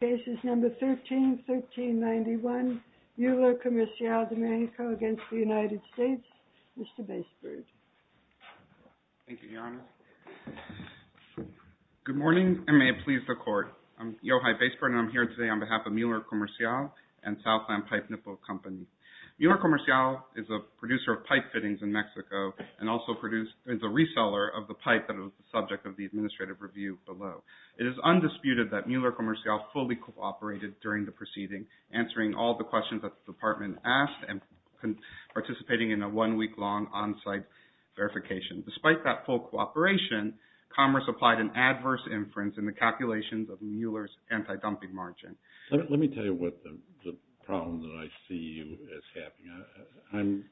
cases number 13 1391 Mueller Comercial de Mexico against the United States. Mr. Baisberg. Thank you Your Honor. Good morning and may it please the court. I'm Yochai Baisberg and I'm here today on behalf of Mueller Comercial and Southland Pipe Nipple Company. Mueller Comercial is a producer of pipe fittings in Mexico and also produced is a reseller of the pipe that is undisputed that Mueller Comercial fully cooperated during the proceeding answering all the questions that the department asked and participating in a one-week long on-site verification. Despite that full cooperation commerce applied an adverse inference in the calculations of Mueller's anti-dumping margin. Let me tell you what the problem that I see you is having. I'm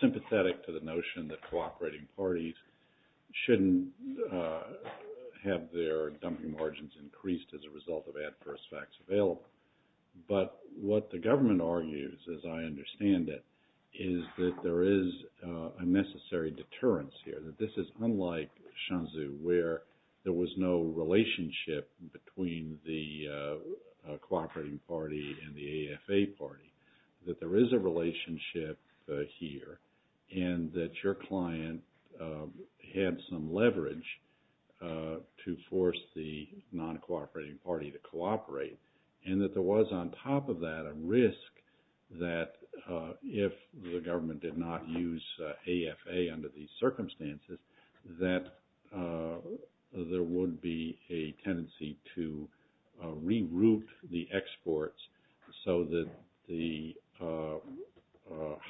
sympathetic to the notion that cooperating parties shouldn't have their margins increased as a result of adverse facts available. But what the government argues as I understand it is that there is a necessary deterrence here. That this is unlike Shenzhou where there was no relationship between the cooperating party and the AFA party. That there was no non-cooperating party to cooperate and that there was on top of that a risk that if the government did not use AFA under these circumstances that there would be a tendency to reroute the exports so that the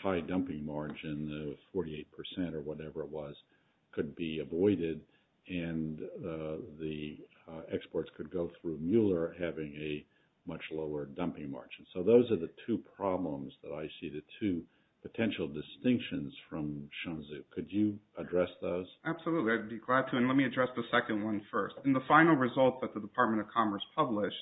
high dumping margin of 48 percent or whatever it was could be avoided and the exports could go through Mueller having a much lower dumping margin. So those are the two problems that I see the two potential distinctions from Shenzhou. Could you address those? Absolutely I'd be glad to and let me address the second one first. In the final result that the Department of Commerce published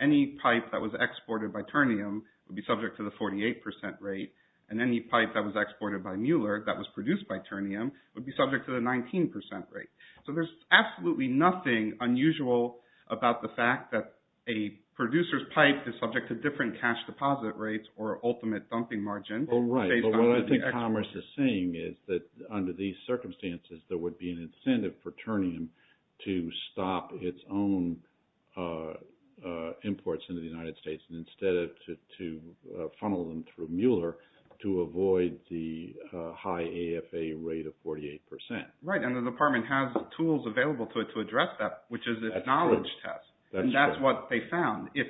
any pipe that was exported by Turnium would be subject to the 48 percent rate and any pipe that was exported by Mueller that was produced by Turnium would be subject to the 19 percent rate. So there's absolutely nothing unusual about the fact that a producer's pipe is subject to different cash deposit rates or ultimate dumping margin. Well right but what I think Commerce is saying is that under these circumstances there would be an incentive for Turnium to stop its own imports into the United States and instead of to a high AFA rate of 48 percent. Right and the department has the tools available to it to address that which is its knowledge test and that's what they found. If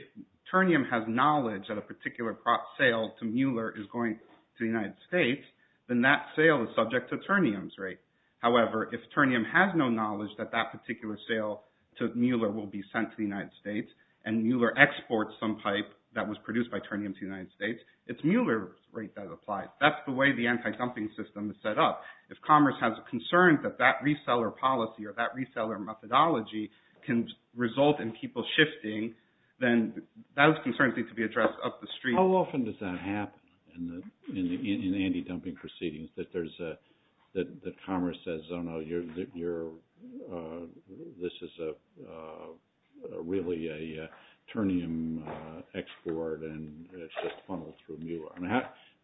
Turnium has knowledge that a particular sale to Mueller is going to the United States then that sale is subject to Turnium's rate. However if Turnium has no knowledge that that particular sale to Mueller will be sent to the United States and Mueller exports some pipe that was produced by Turnium to the United States it's Mueller's rate that applies. That's the way the anti-dumping system is set up. If Commerce has a concern that that reseller policy or that reseller methodology can result in people shifting then those concerns need to be addressed up the street. How often does that happen in the in anti-dumping proceedings that there's a that Commerce says oh no you're you're this is a really a Turnium export and it's just funneled through Mueller.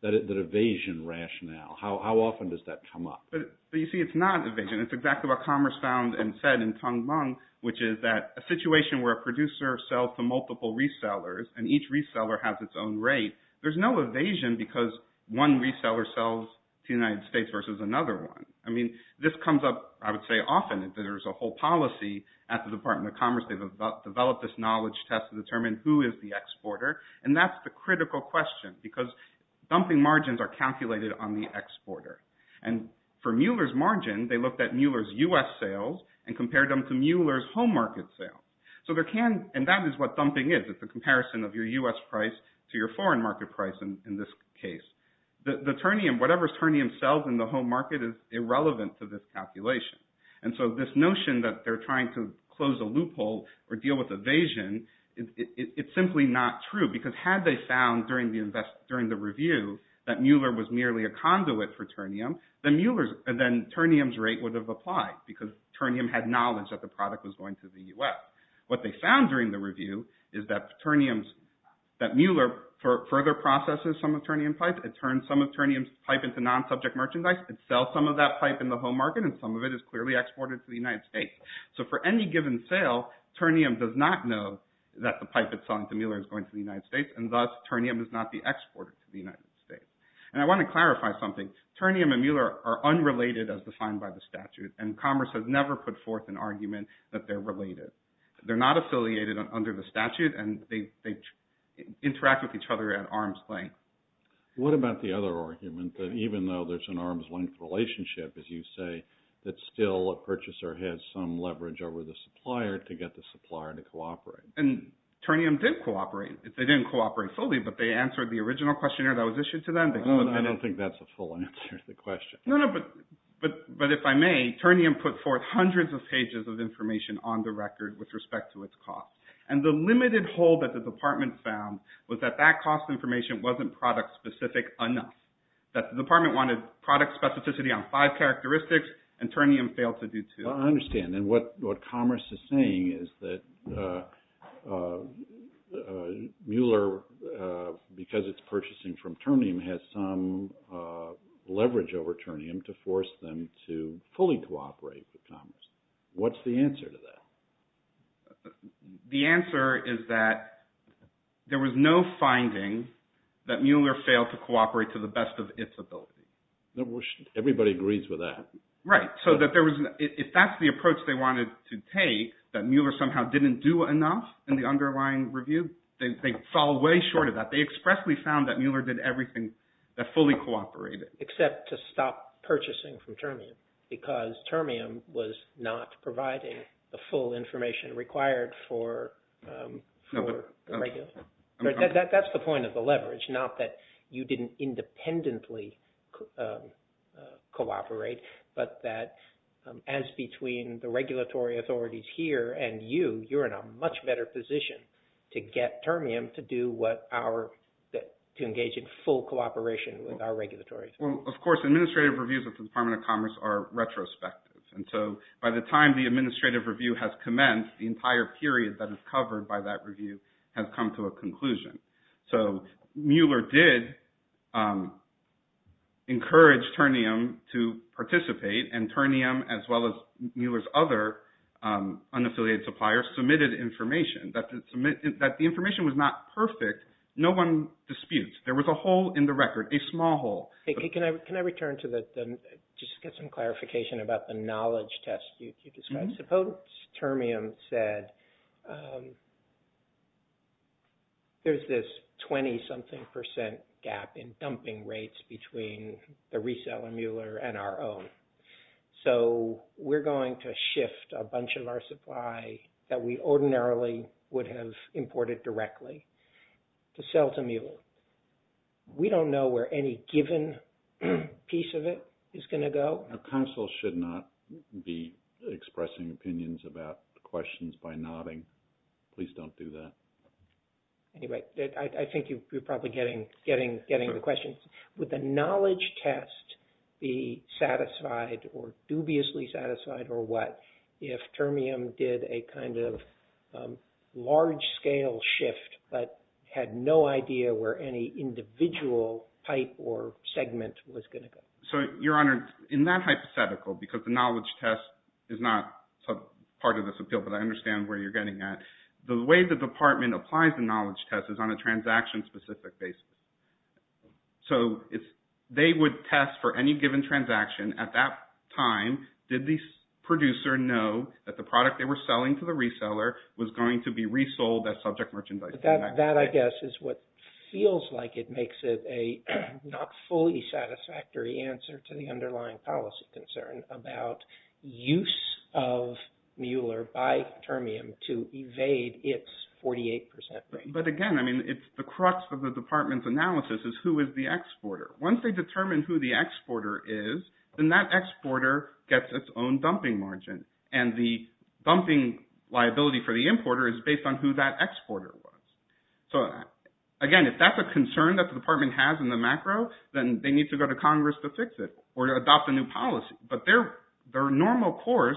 That evasion rationale how often does that come up? But you see it's not evasion it's exactly what Commerce found and said in Tung Mung which is that a situation where a producer sells to multiple resellers and each reseller has its own rate there's no evasion because one reseller sells to the United States versus another one. I mean this comes up I would say often if there's a whole policy at the Department of Commerce they've developed this knowledge test to determine who is the exporter and that's the critical question because dumping margins are calculated on the exporter and for Mueller's margin they looked at Mueller's U.S. sales and compared them to Mueller's home market sales. So there can and that is what dumping is it's a the Turnium whatever's Turnium sells in the home market is irrelevant to this calculation and so this notion that they're trying to close a loophole or deal with evasion it's simply not true because had they found during the invest during the review that Mueller was merely a conduit for Turnium then Mueller's and then Turnium's rate would have applied because Turnium had knowledge that the product was going to the U.S. What they found during the review is that Turnium's that Mueller further processes some of Turnium pipe it turns some of Turnium's pipe into non-subject merchandise and sell some of that pipe in the home market and some of it is clearly exported to the United States. So for any given sale Turnium does not know that the pipe it's selling to Mueller is going to the United States and thus Turnium is not the exporter to the United States. And I want to clarify something Turnium and Mueller are unrelated as defined by the statute and Commerce has never put forth an argument that they're related. They're not affiliated under the statute and they interact with each other at arm's length. What about the other argument that even though there's an arm's length relationship as you say that still a purchaser has some leverage over the supplier to get the supplier to cooperate? And Turnium did cooperate if they didn't cooperate fully but they answered the original questionnaire that was issued to them. I don't think that's a full answer to the question. No no but but but if I may Turnium put forth hundreds of pages of information on the record with respect to its cost and the limited hold that the department found was that that cost information wasn't product specific enough. That the department wanted product specificity on five characteristics and Turnium failed to do two. I understand and what what Commerce is saying is that Mueller because it's purchasing from Turnium has some leverage over Turnium to force them to fully cooperate with Commerce. What's the answer to that? The answer is that there was no finding that Mueller failed to cooperate to the best of its ability. Everybody agrees with that. Right so that there was if that's the approach they wanted to take that Mueller somehow didn't do enough in the underlying review. They fell way short of that. They expressly found that Mueller did everything that fully cooperated. Except to stop purchasing from Turnium because Turnium was not providing the full information required for the regulators. That's the point of the leverage not that you didn't independently cooperate but that as between the regulatory authorities here and you you're in a much better position to get Turnium to do what our that to engage in full cooperation with our regulatory. Well of course administrative reviews of the Department of Commerce are retrospective and so by the time the administrative review has commenced the entire period that is covered by that review has come to a conclusion. So Mueller did encourage Turnium to participate and Turnium as well as Mueller's other unaffiliated supplier submitted information that the information was not perfect. No one disputes there was a hole in the record a small hole. Can I return to the just get some clarification about the knowledge test you described. So potent Turnium said there's this 20 something percent gap in dumping rates between the reseller Mueller and our own. So we're going to shift a bunch of our supply that we ordinarily would have imported directly to sell to Mueller. We don't know where any given piece of it is going to go. Council should not be expressing opinions about questions by nodding. Please don't do that. Anyway I think you're probably getting getting getting the questions with the knowledge test be satisfied or dubiously satisfied or what if Turnium did a kind of large scale shift but had no idea where any individual pipe or segment was going to go. So your honor in that hypothetical because the knowledge test is not part of this appeal but I understand where you're getting at the way the department applies the knowledge test is on a transaction specific basis. So if they would test for any given transaction at that time did the producer know that the product they were selling to the reseller was going to be resold as subject merchandise. That I guess is what feels like it makes it a not fully satisfactory answer to the underlying policy concern about use of but again I mean it's the crux of the department's analysis is who is the exporter. Once they determine who the exporter is then that exporter gets its own dumping margin and the dumping liability for the importer is based on who that exporter was. So again if that's a concern that the department has in the macro then they need to go to Congress to fix it or to adopt a new policy but their their normal course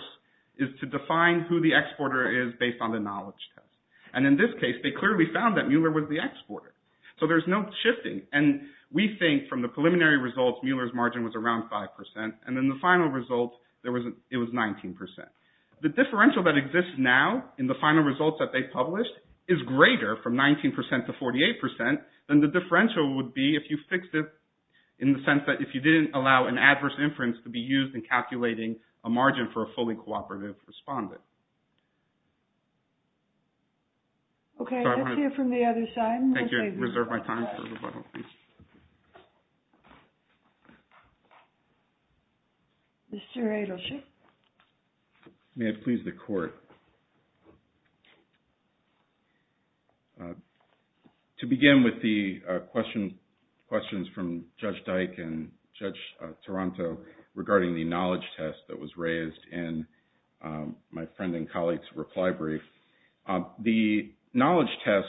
is to define who the exporter is based on the knowledge test. And in this case they clearly found that Mueller was the exporter. So there's no shifting and we think from the preliminary results Mueller's margin was around five percent and then the final result there was it was 19 percent. The differential that exists now in the final results that they published is greater from 19 to 48 percent than the differential would be if you fixed it in the sense that if you didn't allow an adverse inference to be used in calculating a margin for a fully cooperative respondent. Okay let's hear from the other side. Thank you. Reserve my time. Mr. Adelship. May it please the court. To begin with the questions from Judge Dyke and Judge Taranto regarding the knowledge test that was raised in my friend and colleague's reply brief. The knowledge test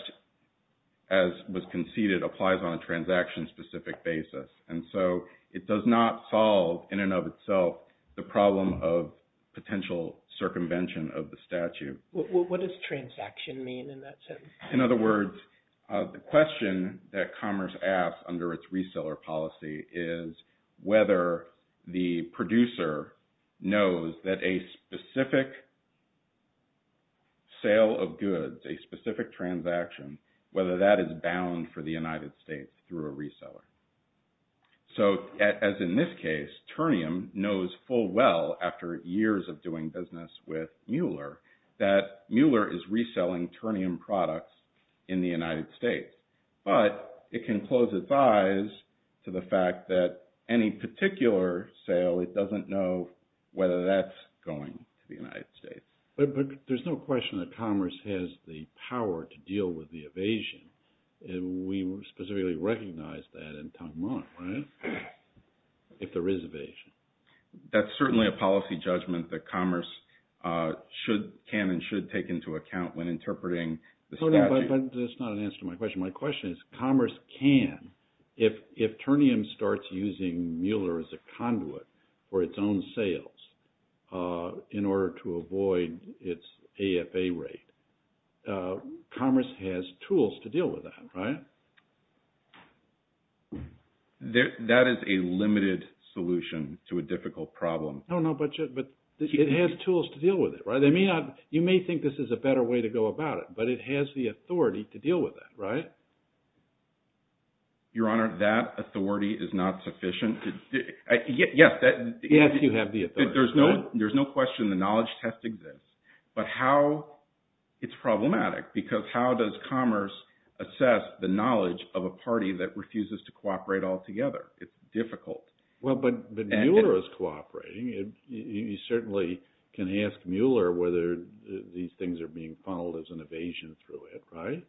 as was conceded applies on a transaction specific basis and so it does not solve in and of itself the problem of potential circumvention of the statute. What does transaction mean in that sense? In other words the question that Commerce asks under its reseller policy is whether the producer knows that a specific sale of goods a specific transaction whether that is bound for the United States through a reseller. So as in this case Turnium knows full well after years of doing business with Mueller that Mueller is reselling Turnium products in the United States but it can close its eyes to the fact that any particular sale it doesn't know whether that's going to the United States. But there's no question that Commerce has the power to deal with the evasion and we specifically recognize that in Tung Mueller right if there is evasion. That's certainly a policy judgment that Commerce should can and should take into account when if Turnium starts using Mueller as a conduit for its own sales in order to avoid its AFA rate Commerce has tools to deal with that right. That is a limited solution to a difficult problem. No no but it has tools to deal with it right they may not you may think this is a better way to go about it but it has the authority to deal with that right. Your Honor that authority is not sufficient. Yes that yes you have the authority. There's no there's no question the knowledge test exists but how it's problematic because how does Commerce assess the knowledge of a party that refuses to cooperate altogether. It's difficult. Well but but Mueller is cooperating it you certainly can ask Mueller whether these things are being funneled as an evasion through it right.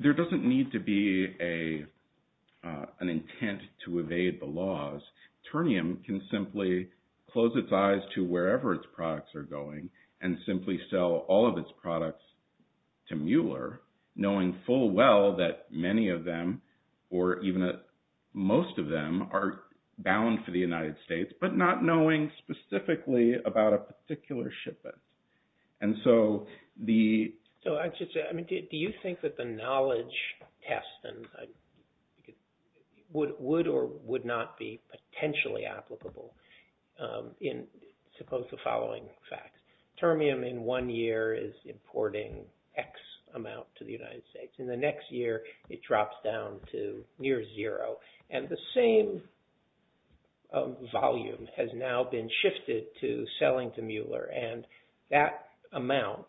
There doesn't need to be a an intent to evade the laws Turnium can simply close its eyes to wherever its products are going and simply sell all of its products to Mueller knowing full well that many of them or even most of them are bound for the United States but not knowing specifically about a particular shipment. And so the so I just I mean do you think that the knowledge test and I would or would not be potentially applicable in suppose the following facts Turnium in one year is importing X amount to the United States in the next year it drops down to near zero and the same volume has now been shifted to selling to Mueller and that amount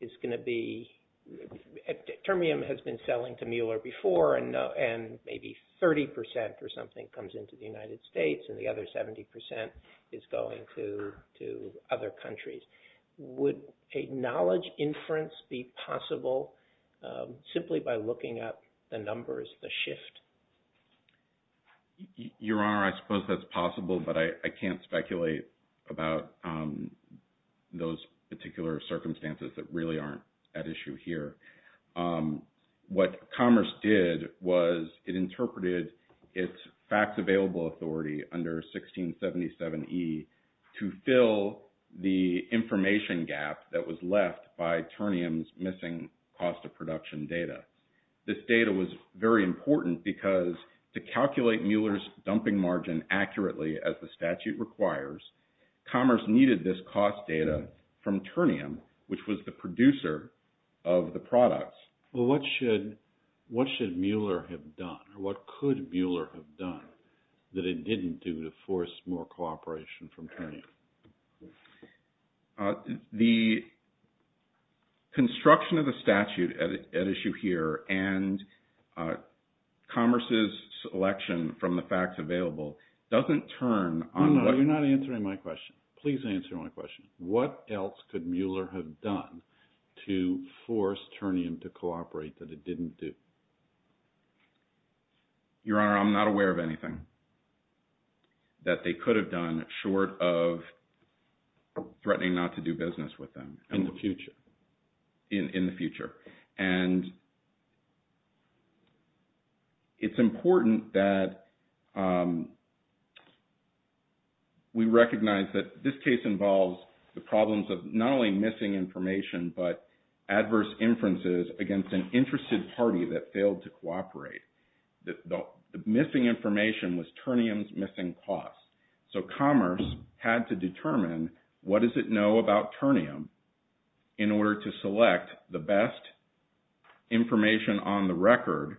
is going to be Turnium has been selling to Mueller before and and maybe 30 percent or something comes into the United States and the other 70 percent is going to to other countries. Would a knowledge inference be possible simply by looking at the numbers the shift. Your honor I suppose that's possible but I can't speculate about those particular circumstances that really aren't at issue here. What commerce did was it interpreted its facts available authority under 1677 E to fill the information gap that was left by Turnium's missing cost of production data. This data was very important because to calculate Mueller's dumping margin accurately as the statute requires commerce needed this cost data from Turnium which was the producer of the products. Well what should what should Mueller have done or what could Mueller have done that it didn't do to force more cooperation from Turnium. The construction of the statute at issue here and commerce's selection from the facts available doesn't turn on. No you're not answering my question. Please answer my question. What else could Mueller have done to force Turnium to cooperate that it didn't do. Your honor I'm not aware of anything that they could have done short of threatening not to do business with them in the future in the future. And it's important that we recognize that this case involves the problems of not only missing information but adverse inferences against an interested party that failed to cooperate. The missing information was Turnium's missing costs. So commerce had to determine what does it know about Turnium in order to select the best information on the record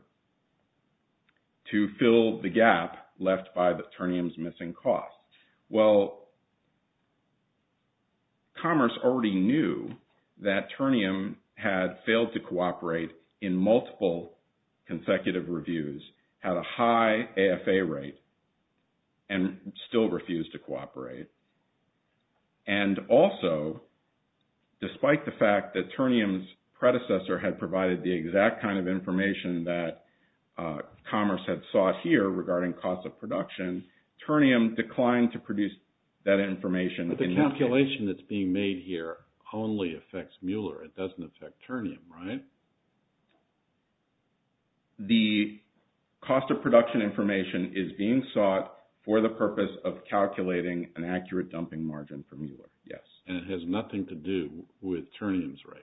to fill the gap left by the Turnium's missing costs. Well commerce already knew that Turnium had failed to cooperate in multiple consecutive reviews, had a high AFA rate and still refused to cooperate. And also despite the fact that Turnium's information that commerce had sought here regarding cost of production, Turnium declined to produce that information. But the calculation that's being made here only affects Mueller. It doesn't affect Turnium right? The cost of production information is being sought for the purpose of calculating an accurate dumping margin for Mueller. Yes. And it has nothing to do with Turnium's rate.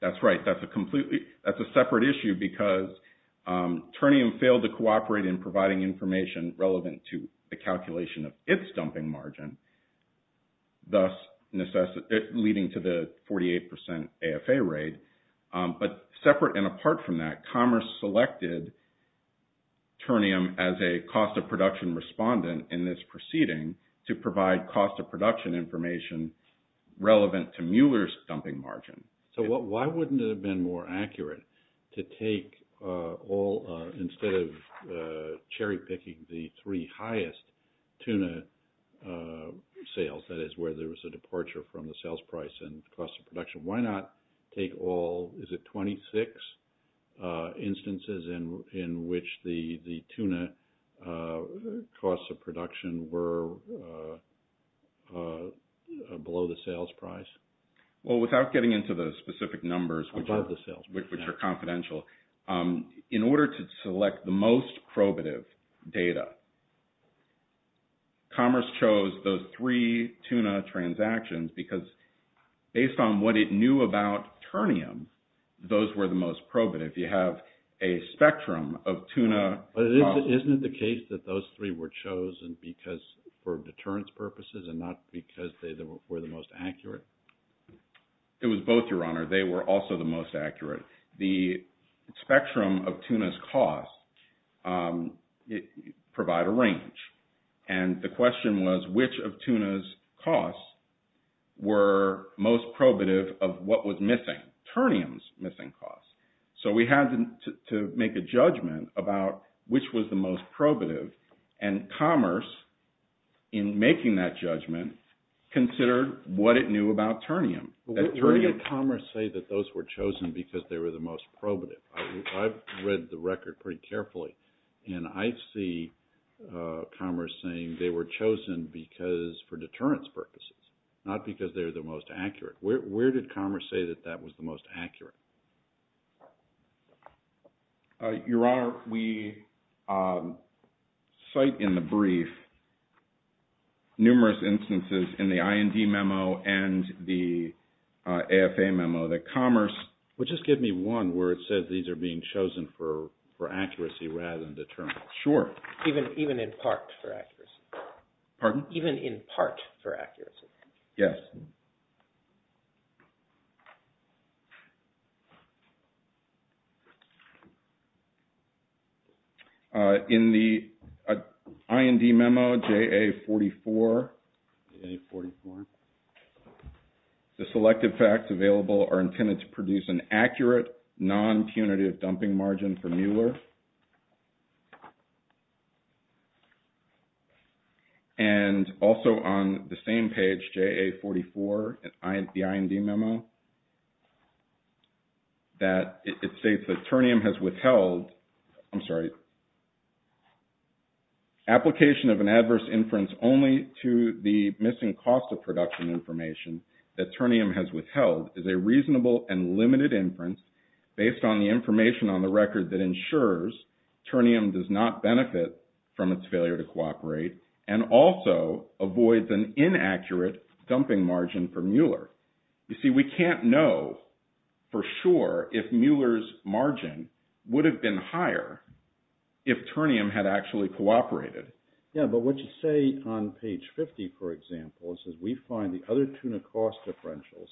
That's right. That's a completely, that's a separate issue because Turnium failed to cooperate in providing information relevant to the calculation of its dumping margin, thus leading to the 48% AFA rate. But separate and apart from that, commerce selected Turnium as a cost of production respondent in this proceeding to provide cost of production information relevant to Mueller's dumping margin. So why wouldn't it have been more accurate to take all, instead of cherry picking the three highest tuna sales, that is where there was a departure from the sales price and cost of production? Well, without getting into the specific numbers, which are confidential, in order to select the most probative data, commerce chose those three tuna transactions because based on what it knew about Turnium, those were the most probative. You have a spectrum of deterrence purposes and not because they were the most accurate? It was both, Your Honor. They were also the most accurate. The spectrum of tuna's costs provide a range. And the question was which of tuna's costs were most probative of what was missing, Turnium's missing costs. So we had to make a judgment about which was the most probative. And commerce in making that judgment considered what it knew about Turnium. Where did commerce say that those were chosen because they were the most probative? I've read the record pretty carefully and I see commerce saying they were chosen because for deterrence purposes, not because they're the most accurate. Where did commerce say that that was the most accurate? Your Honor, we cite in the brief numerous instances in the IND memo and the AFA memo that commerce would just give me one where it says these are being chosen for accuracy rather than deterrence. Sure. Even in part for accuracy. Pardon? Even in part for accuracy. Yes. Okay. In the IND memo, JA44, the selected facts available are intended to produce an accurate non-punitive dumping margin for Mueller. And also on the same page, JA44, the IND memo, that it states that Turnium has withheld, I'm sorry, application of an adverse inference only to the missing cost of production information that Turnium has withheld is a reasonable and limited inference based on the information on the record that ensures Turnium does not benefit from its failure to cooperate and also avoids an adverse inference. I don't know for sure if Mueller's margin would have been higher if Turnium had actually cooperated. Yeah, but what you say on page 50, for example, it says we find the other tuna cost differentials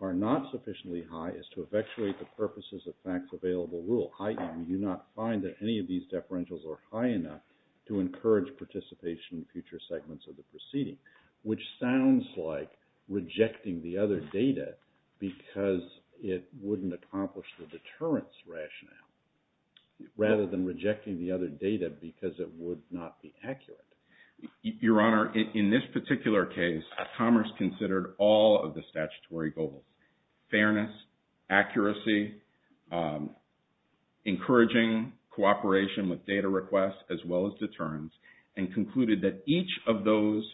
are not sufficiently high as to effectuate the purposes of facts available rule. I do not find that any of these differentials are high enough to encourage participation in future segments of the proceeding, which sounds like rejecting the other data because it wouldn't accomplish the deterrence rationale, rather than rejecting the other data because it would not be accurate. Your Honor, in this particular case, Commerce considered all of the statutory goals, fairness, accuracy, encouraging cooperation with data requests, as well as deterrence, and concluded that each of those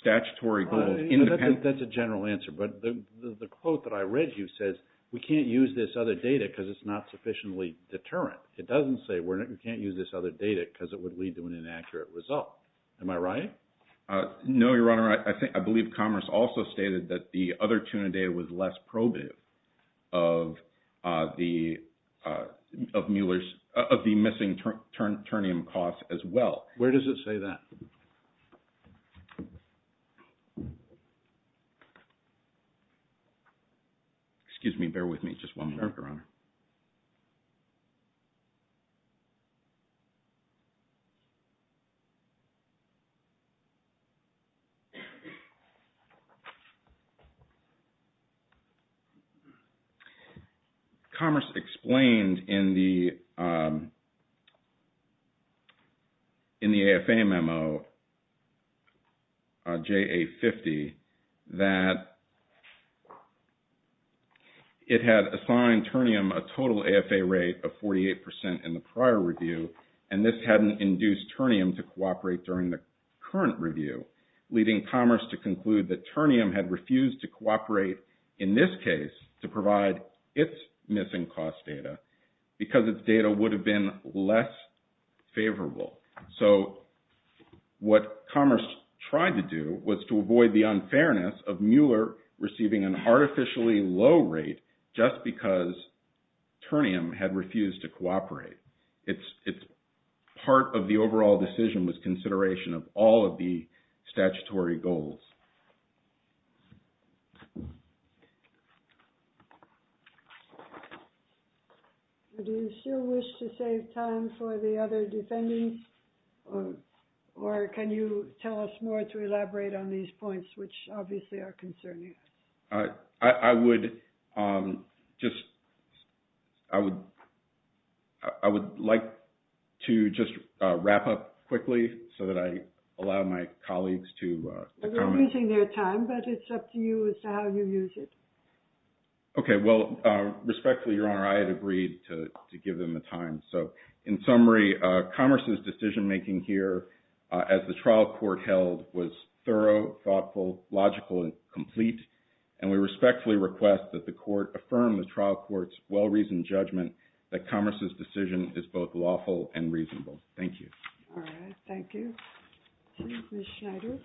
statutory goals... That's a general answer, but the quote that I read you says, we can't use this other data because it's not sufficiently deterrent. It doesn't say we can't use this other data because it would lead to an inaccurate result. Am I right? No, Your Honor. I believe Commerce also stated that the other tuna data was less probative of the missing Turnium costs as well. Where does it say that? Excuse me, bear with me just one moment, Your Honor. Commerce explained in the review that it had assigned Turnium a total AFA rate of 48% in the prior review, and this hadn't induced Turnium to cooperate during the current review, leading Commerce to conclude that Turnium had refused to cooperate in this case to provide its missing cost data because its data would have been less favorable. So what Commerce tried to do was to avoid the unfairness of Mueller receiving an artificially low rate just because Turnium had refused to cooperate. Part of the overall decision was consideration of all of the statutory goals. Do you still wish to save time for the other defendants, or can you tell us more to elaborate on these points, which obviously are concerning? I would like to just wrap up quickly so that I can get my colleagues to comment. We're losing their time, but it's up to you as to how you use it. Okay. Well, respectfully, Your Honor, I had agreed to give them the time. So in summary, Commerce's decision-making here as the trial court held was thorough, thoughtful, logical, and complete, and we respectfully request that the court affirm the trial court's well-reasoned judgment that Commerce's decision is both lawful and reasonable. Thank you. All right. Thank you. Ms. Schneider?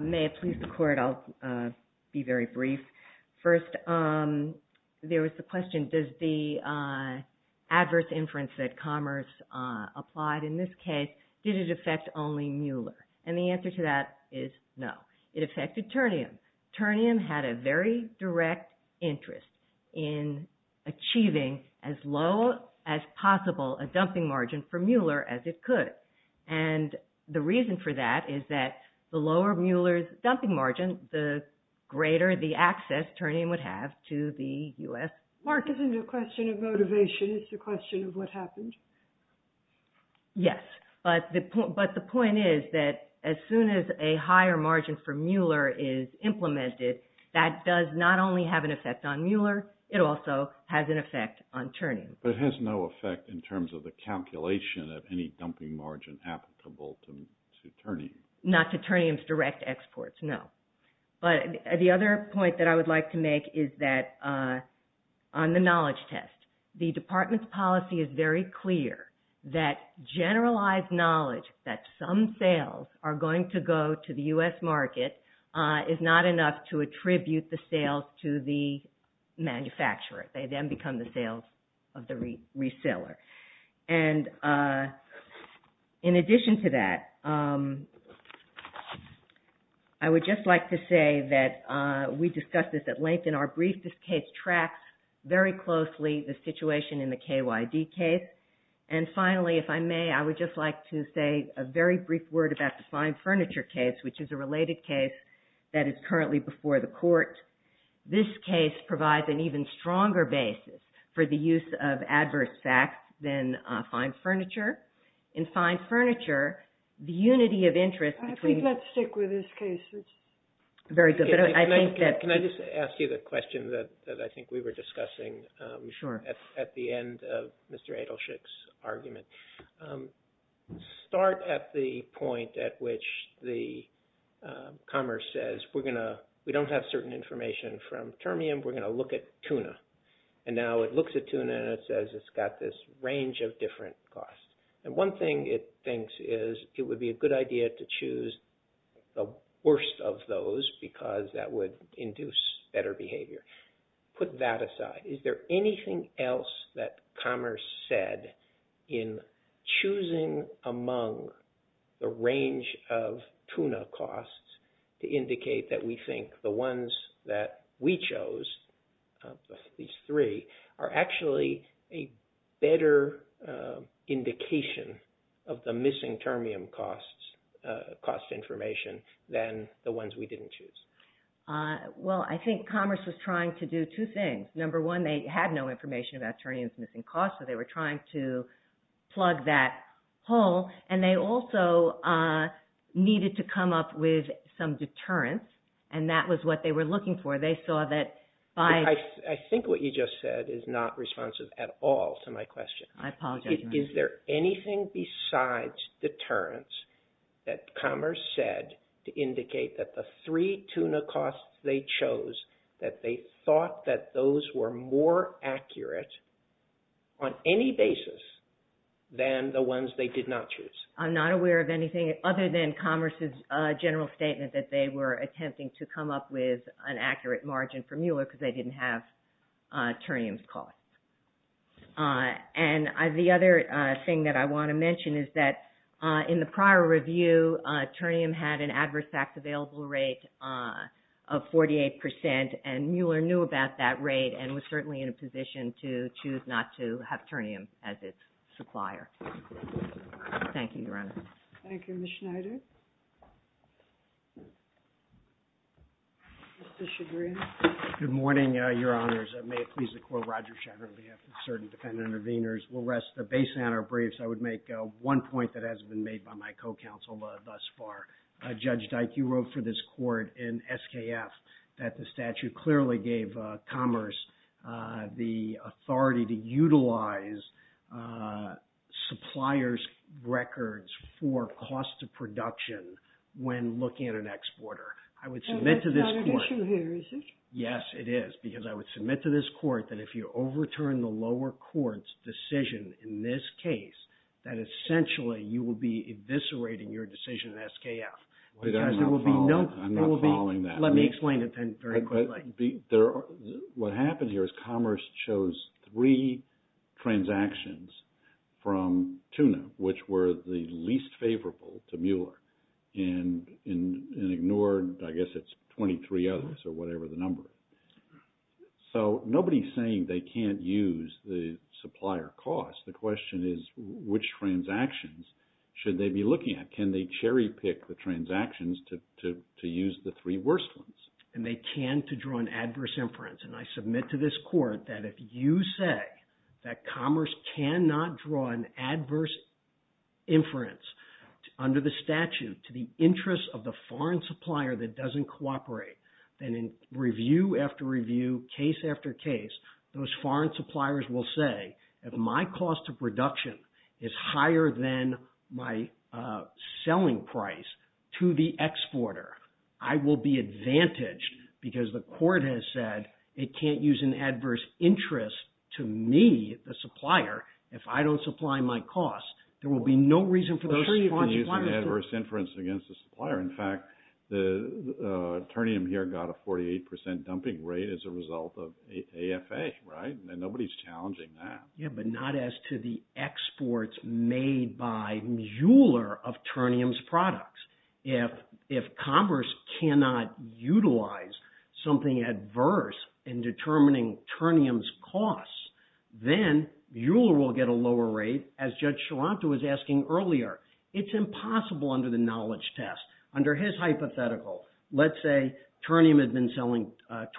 May it please the Court, I'll be very brief. First, there was the question, does the adverse inference that Commerce applied in this case, did it affect only Mueller? And the answer to that is no. It affected Turnium. Turnium had a very direct interest in achieving as low as possible a dumping margin for Mueller as it could. And the reason for that is that the lower Mueller's dumping margin, the greater the access Turnium would have to the U.S. Mark, isn't it a question of motivation? It's a question of what happened? Yes. But the point is that as soon as a higher margin for Mueller is implemented, that does not only have an effect on Mueller, it also has an effect on Turnium. But it has no effect in terms of the calculation of any dumping margin applicable to Turnium. Not to Turnium's direct exports, no. But the other point that I would like to make is that on the knowledge test, the Department's policy is very clear that generalized knowledge that some sales are going to go to the U.S. market is not enough to attribute the sales to the manufacturer. They then become the sales of the reseller. And in addition to that, I would just like to say that we discussed this at length in our brief. This case tracks very closely the situation in the KYD case. And finally, if I may, I would just like to say a very brief word about the fine furniture case, which is a related case that is currently before the court. This case provides an even stronger basis for the use of adverse facts than fine furniture. The unity of interest between... I think let's stick with this case. Very good. Can I just ask you the question that I think we were discussing at the end of Mr. Adelschick's argument? Start at the point at which the Commerce says, we don't have certain information from Turnium, we're going to look at Tuna. And now it looks at Tuna and it says it's got this range of different costs. And one thing it thinks is it would be a good idea to choose the worst of those because that would induce better behavior. Put that aside. Is there anything else that Commerce said in choosing among the range of Tuna costs to indicate that we think the ones that we chose, these three, are actually a better indication of the missing Turnium costs information than the ones we didn't choose? Well, I think Commerce was trying to do two things. Number one, they had no information about Turnium's missing costs, so they were trying to they saw that by... I think what you just said is not responsive at all to my question. I apologize. Is there anything besides deterrence that Commerce said to indicate that the three Tuna costs they chose, that they thought that those were more accurate on any basis than the ones they did not choose? I'm not aware of anything other than Commerce's general statement that they were attempting to come up with an accurate margin for Mueller because they didn't have Turnium's costs. And the other thing that I want to mention is that in the prior review, Turnium had an adverse facts available rate of 48%, and Mueller knew about that rate and was certainly in a position to choose not to have Turnium as its supplier. Thank you, Your Honor. Thank you, Ms. Schneider. Mr. Chagrin. Good morning, Your Honors. May it please the Court, Roger Chagrin on behalf of the Asserted Defendant Intervenors. We'll rest the base on our briefs. I would make one point that hasn't been made by my co-counsel thus far. Judge Dyke, you wrote for this Court in SKF that the statute clearly gave Commerce the authority to utilize suppliers' records for cost of production when looking at an exporter. I would submit to this Court... That's not an issue here, is it? Yes, it is, because I would submit to this Court that if you overturn the lower court's decision in this case, that essentially you will be eviscerating your decision in SKF because there will be no... I'm not following that. Let me So nobody's saying they can't use the supplier cost. The question is, which transactions should they be looking at? Can they cherry-pick the transactions to use the three worst ones? And they can to draw an adverse inference. And I submit to this Court that if you say that Commerce cannot draw an adverse inference under the statute to the interest of the foreign supplier that doesn't cooperate, then in review after review, case after case, those foreign suppliers will say, if my cost of production is higher than my selling price to the exporter, I will be advantaged because the Court has said it can't use an adverse interest to me, the supplier, if I don't supply my cost. There will be no reason for those foreign suppliers... Those can use an adverse inference against the supplier. In fact, Turnium here got a 48% dumping rate as a result of AFA, right? And nobody's challenging that. Yeah, but not as to the exports made by Mueller of Turnium's products. If Commerce cannot utilize something adverse in determining Turnium's costs, then Mueller will get a lower rate, as Judge Sharanto was asking earlier. It's impossible under the knowledge test. Under his hypothetical, let's say Turnium had been selling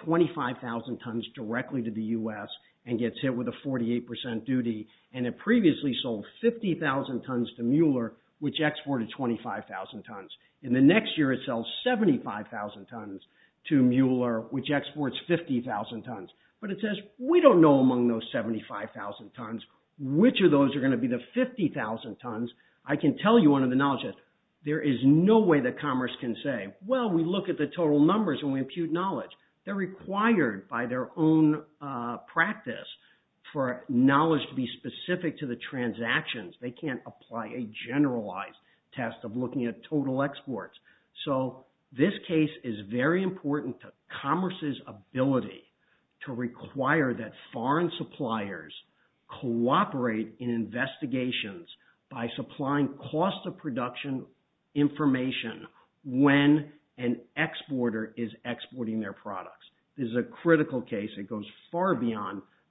25,000 tons directly to the U.S. and gets hit with a 48% duty, and it previously sold 50,000 tons to Mueller, which exported 25,000 tons. In the next year, it sells 75,000 tons to Mueller, which exports 50,000 tons. But it says, we don't know among those 75,000 tons, which of those are going to be the 50,000 tons. I can tell you under the knowledge test, there is no way that Commerce can say, well, we look at the total for knowledge to be specific to the transactions. They can't apply a generalized test of looking at total exports. So this case is very important to Commerce's ability to require that foreign suppliers cooperate in investigations by supplying cost of production information when an exporter is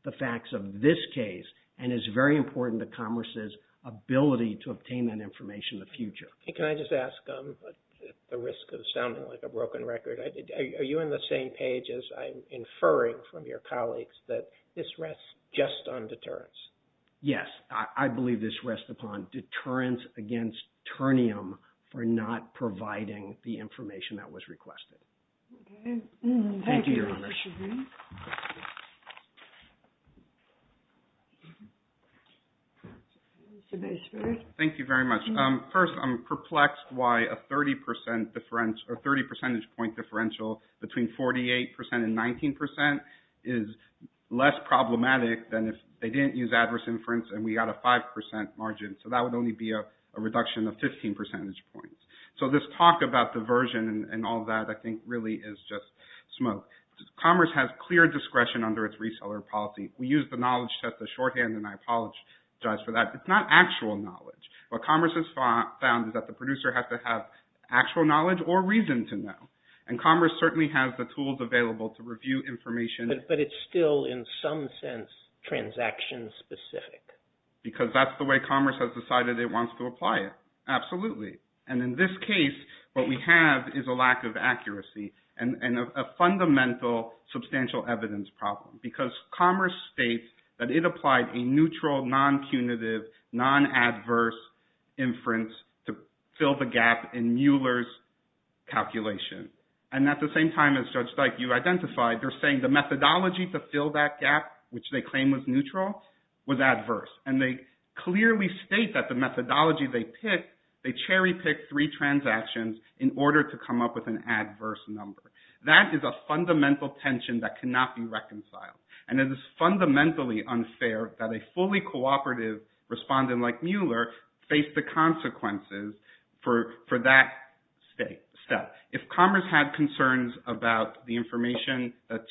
the facts of this case, and it's very important to Commerce's ability to obtain that information in the future. Can I just ask, at the risk of sounding like a broken record, are you in the same page as I'm inferring from your colleagues that this rests just on deterrence? Yes, I believe this rests upon deterrence against Turnium for not providing the information that was requested. Okay. Thank you. Thank you very much. First, I'm perplexed why a 30 percentage point differential between 48% and 19% is less problematic than if they didn't use adverse inference and we got a 5% margin. So that would only be a reduction of 15 percentage points. So this talk about diversion and all that, I think really is just smoke. Commerce has clear discretion under its reseller policy. We use the knowledge test as shorthand and I apologize for that. It's not actual knowledge. What Commerce has found is that the producer has to have actual knowledge or reason to know. And Commerce certainly has the tools available to review information. But it's still in some sense transaction specific. Because that's the way Commerce has decided it wants to is a lack of accuracy and a fundamental substantial evidence problem. Because Commerce states that it applied a neutral, non-punitive, non-adverse inference to fill the gap in Mueller's calculation. And at the same time as Judge Dyke, you identified, they're saying the methodology to fill that gap, which they claim was neutral, was adverse. And they clearly state that methodology they pick, they cherry pick three transactions in order to come up with an adverse number. That is a fundamental tension that cannot be reconciled. And it is fundamentally unfair that a fully cooperative respondent like Mueller faced the consequences for that step. If Commerce had concerns about the information that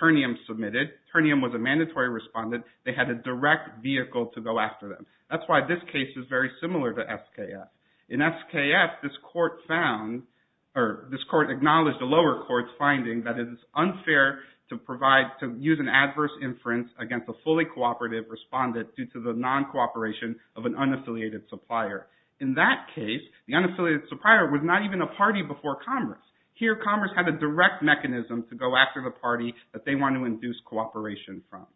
Turnium submitted, Turnium was a mandatory respondent, they had a direct vehicle to go after them. That's why this case is very similar to SKF. In SKF, this court acknowledged the lower court's finding that it is unfair to use an adverse inference against a fully cooperative respondent due to the non-cooperation of an unaffiliated supplier. In that case, the unaffiliated supplier was not even a party before Commerce. Here Commerce had a direct mechanism to go after the party that they want to induce cooperation from.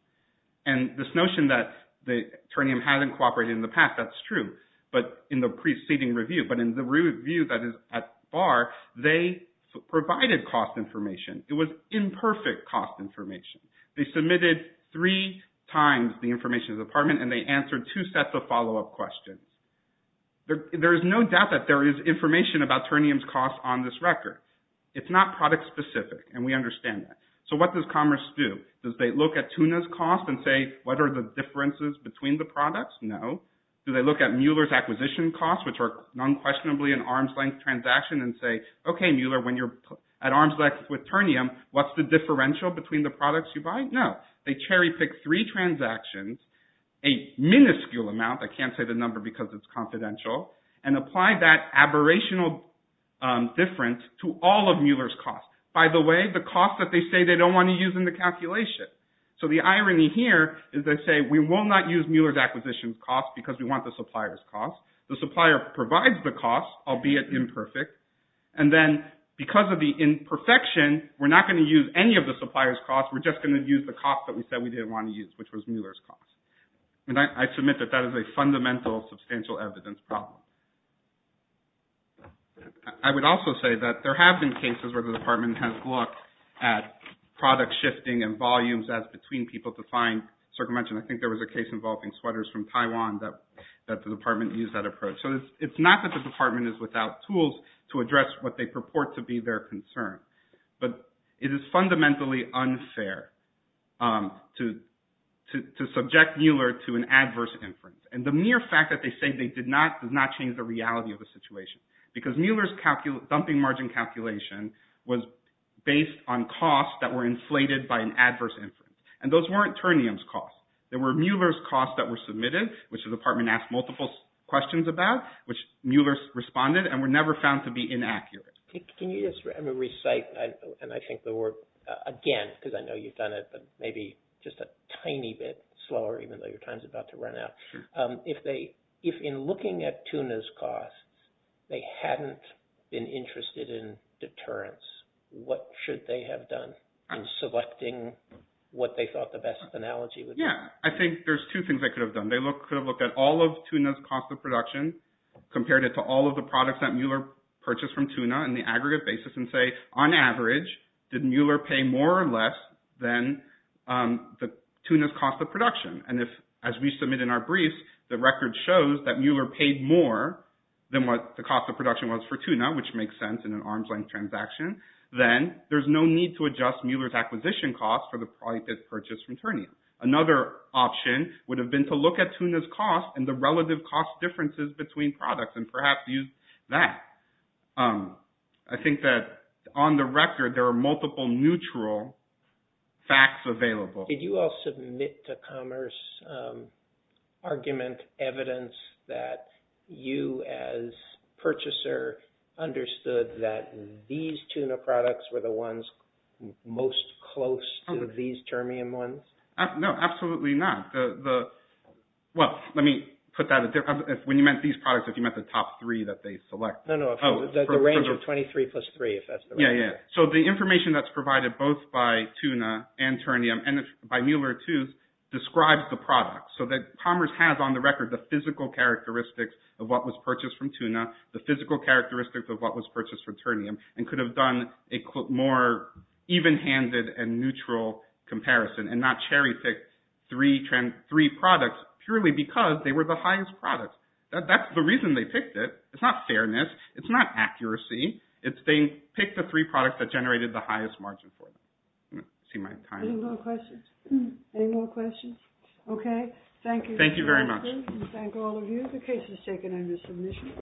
And this notion that Turnium hasn't cooperated in the past, that's true, but in the preceding review. But in the review that is at bar, they provided cost information. It was imperfect cost information. They submitted three times the information to the department and they answered two sets of follow-up questions. There is no doubt that there is information about Turnium's cost on this record. It's not product specific and we understand that. What does Commerce do? Does they look at Tuna's cost and say what are the differences between the products? No. Do they look at Mueller's acquisition cost, which are non-questionably an arms-length transaction and say, okay, Mueller, when you're at arms-length with Turnium, what's the differential between the products you buy? No. They cherry-pick three transactions, a minuscule amount, I can't say the number because it's confidential, and apply that aberrational difference to all of them. They don't want to use in the calculation. So the irony here is they say we will not use Mueller's acquisition cost because we want the supplier's cost. The supplier provides the cost, albeit imperfect, and then because of the imperfection, we're not going to use any of the supplier's cost. We're just going to use the cost that we said we didn't want to use, which was Mueller's cost. And I submit that that is a fundamental substantial evidence problem. I would also say that there have been cases where the department has looked at product shifting and volumes as between people to find circumvention. I think there was a case involving sweaters from Taiwan that the department used that approach. So it's not that the department is without tools to address what they purport to be their concern, but it is fundamentally unfair to subject Mueller to an adverse inference. And the mere fact that they say they did not does not change the reality of the situation because Mueller's dumping margin calculation was based on costs that were inflated by an adverse inference, and those weren't Turnium's costs. They were Mueller's costs that were submitted, which the department asked multiple questions about, which Mueller responded and were never found to be inaccurate. Can you just recite, and I think the word again, because I know you've done it, but maybe just a tiny bit slower, even though your time's about to run out. If in looking at Tuna's costs, they hadn't been interested in deterrence, what should they have done in selecting what they thought the best analogy would be? Yeah. I think there's two things they could have done. They could have looked at all of Tuna's cost of production, compared it to all of the products that Mueller purchased from Tuna in the aggregate basis and say, on average, did Mueller pay more or less than Tuna's cost of production? And if, as we submit in our briefs, the record shows that Mueller paid more than what the cost of production was for Tuna, which makes sense in an arm's length transaction, then there's no need to adjust Mueller's acquisition costs for the product that's purchased from Turnium. Another option would have been to look at Tuna's costs and the relative cost differences between products and perhaps use that. I think that on the record, there are multiple neutral facts available. Did you all submit to Commerce argument evidence that you as purchaser understood that these Tuna products were the ones most close to these Turnium ones? No, absolutely not. Well, let me put that when you meant these products, if you meant the top three that they select. No, no. The range of 23 plus three, if that's the range. Yeah, yeah. So the information that's provided both by Tuna and Turnium and by Mueller, too, describes the product so that Commerce has on the record the physical characteristics of what was purchased from Tuna, the physical characteristics of what was purchased from Turnium, and could have done a more even-handed and neutral comparison and not cherry-pick three products purely because they were the highest products. That's the reason they picked it. It's not fairness. It's not accuracy. It's they picked the three products that generated the highest margin for them. I don't see my time. Any more questions? Okay. Thank you. Thank you very much. Thank all of you. The case is taken under submission.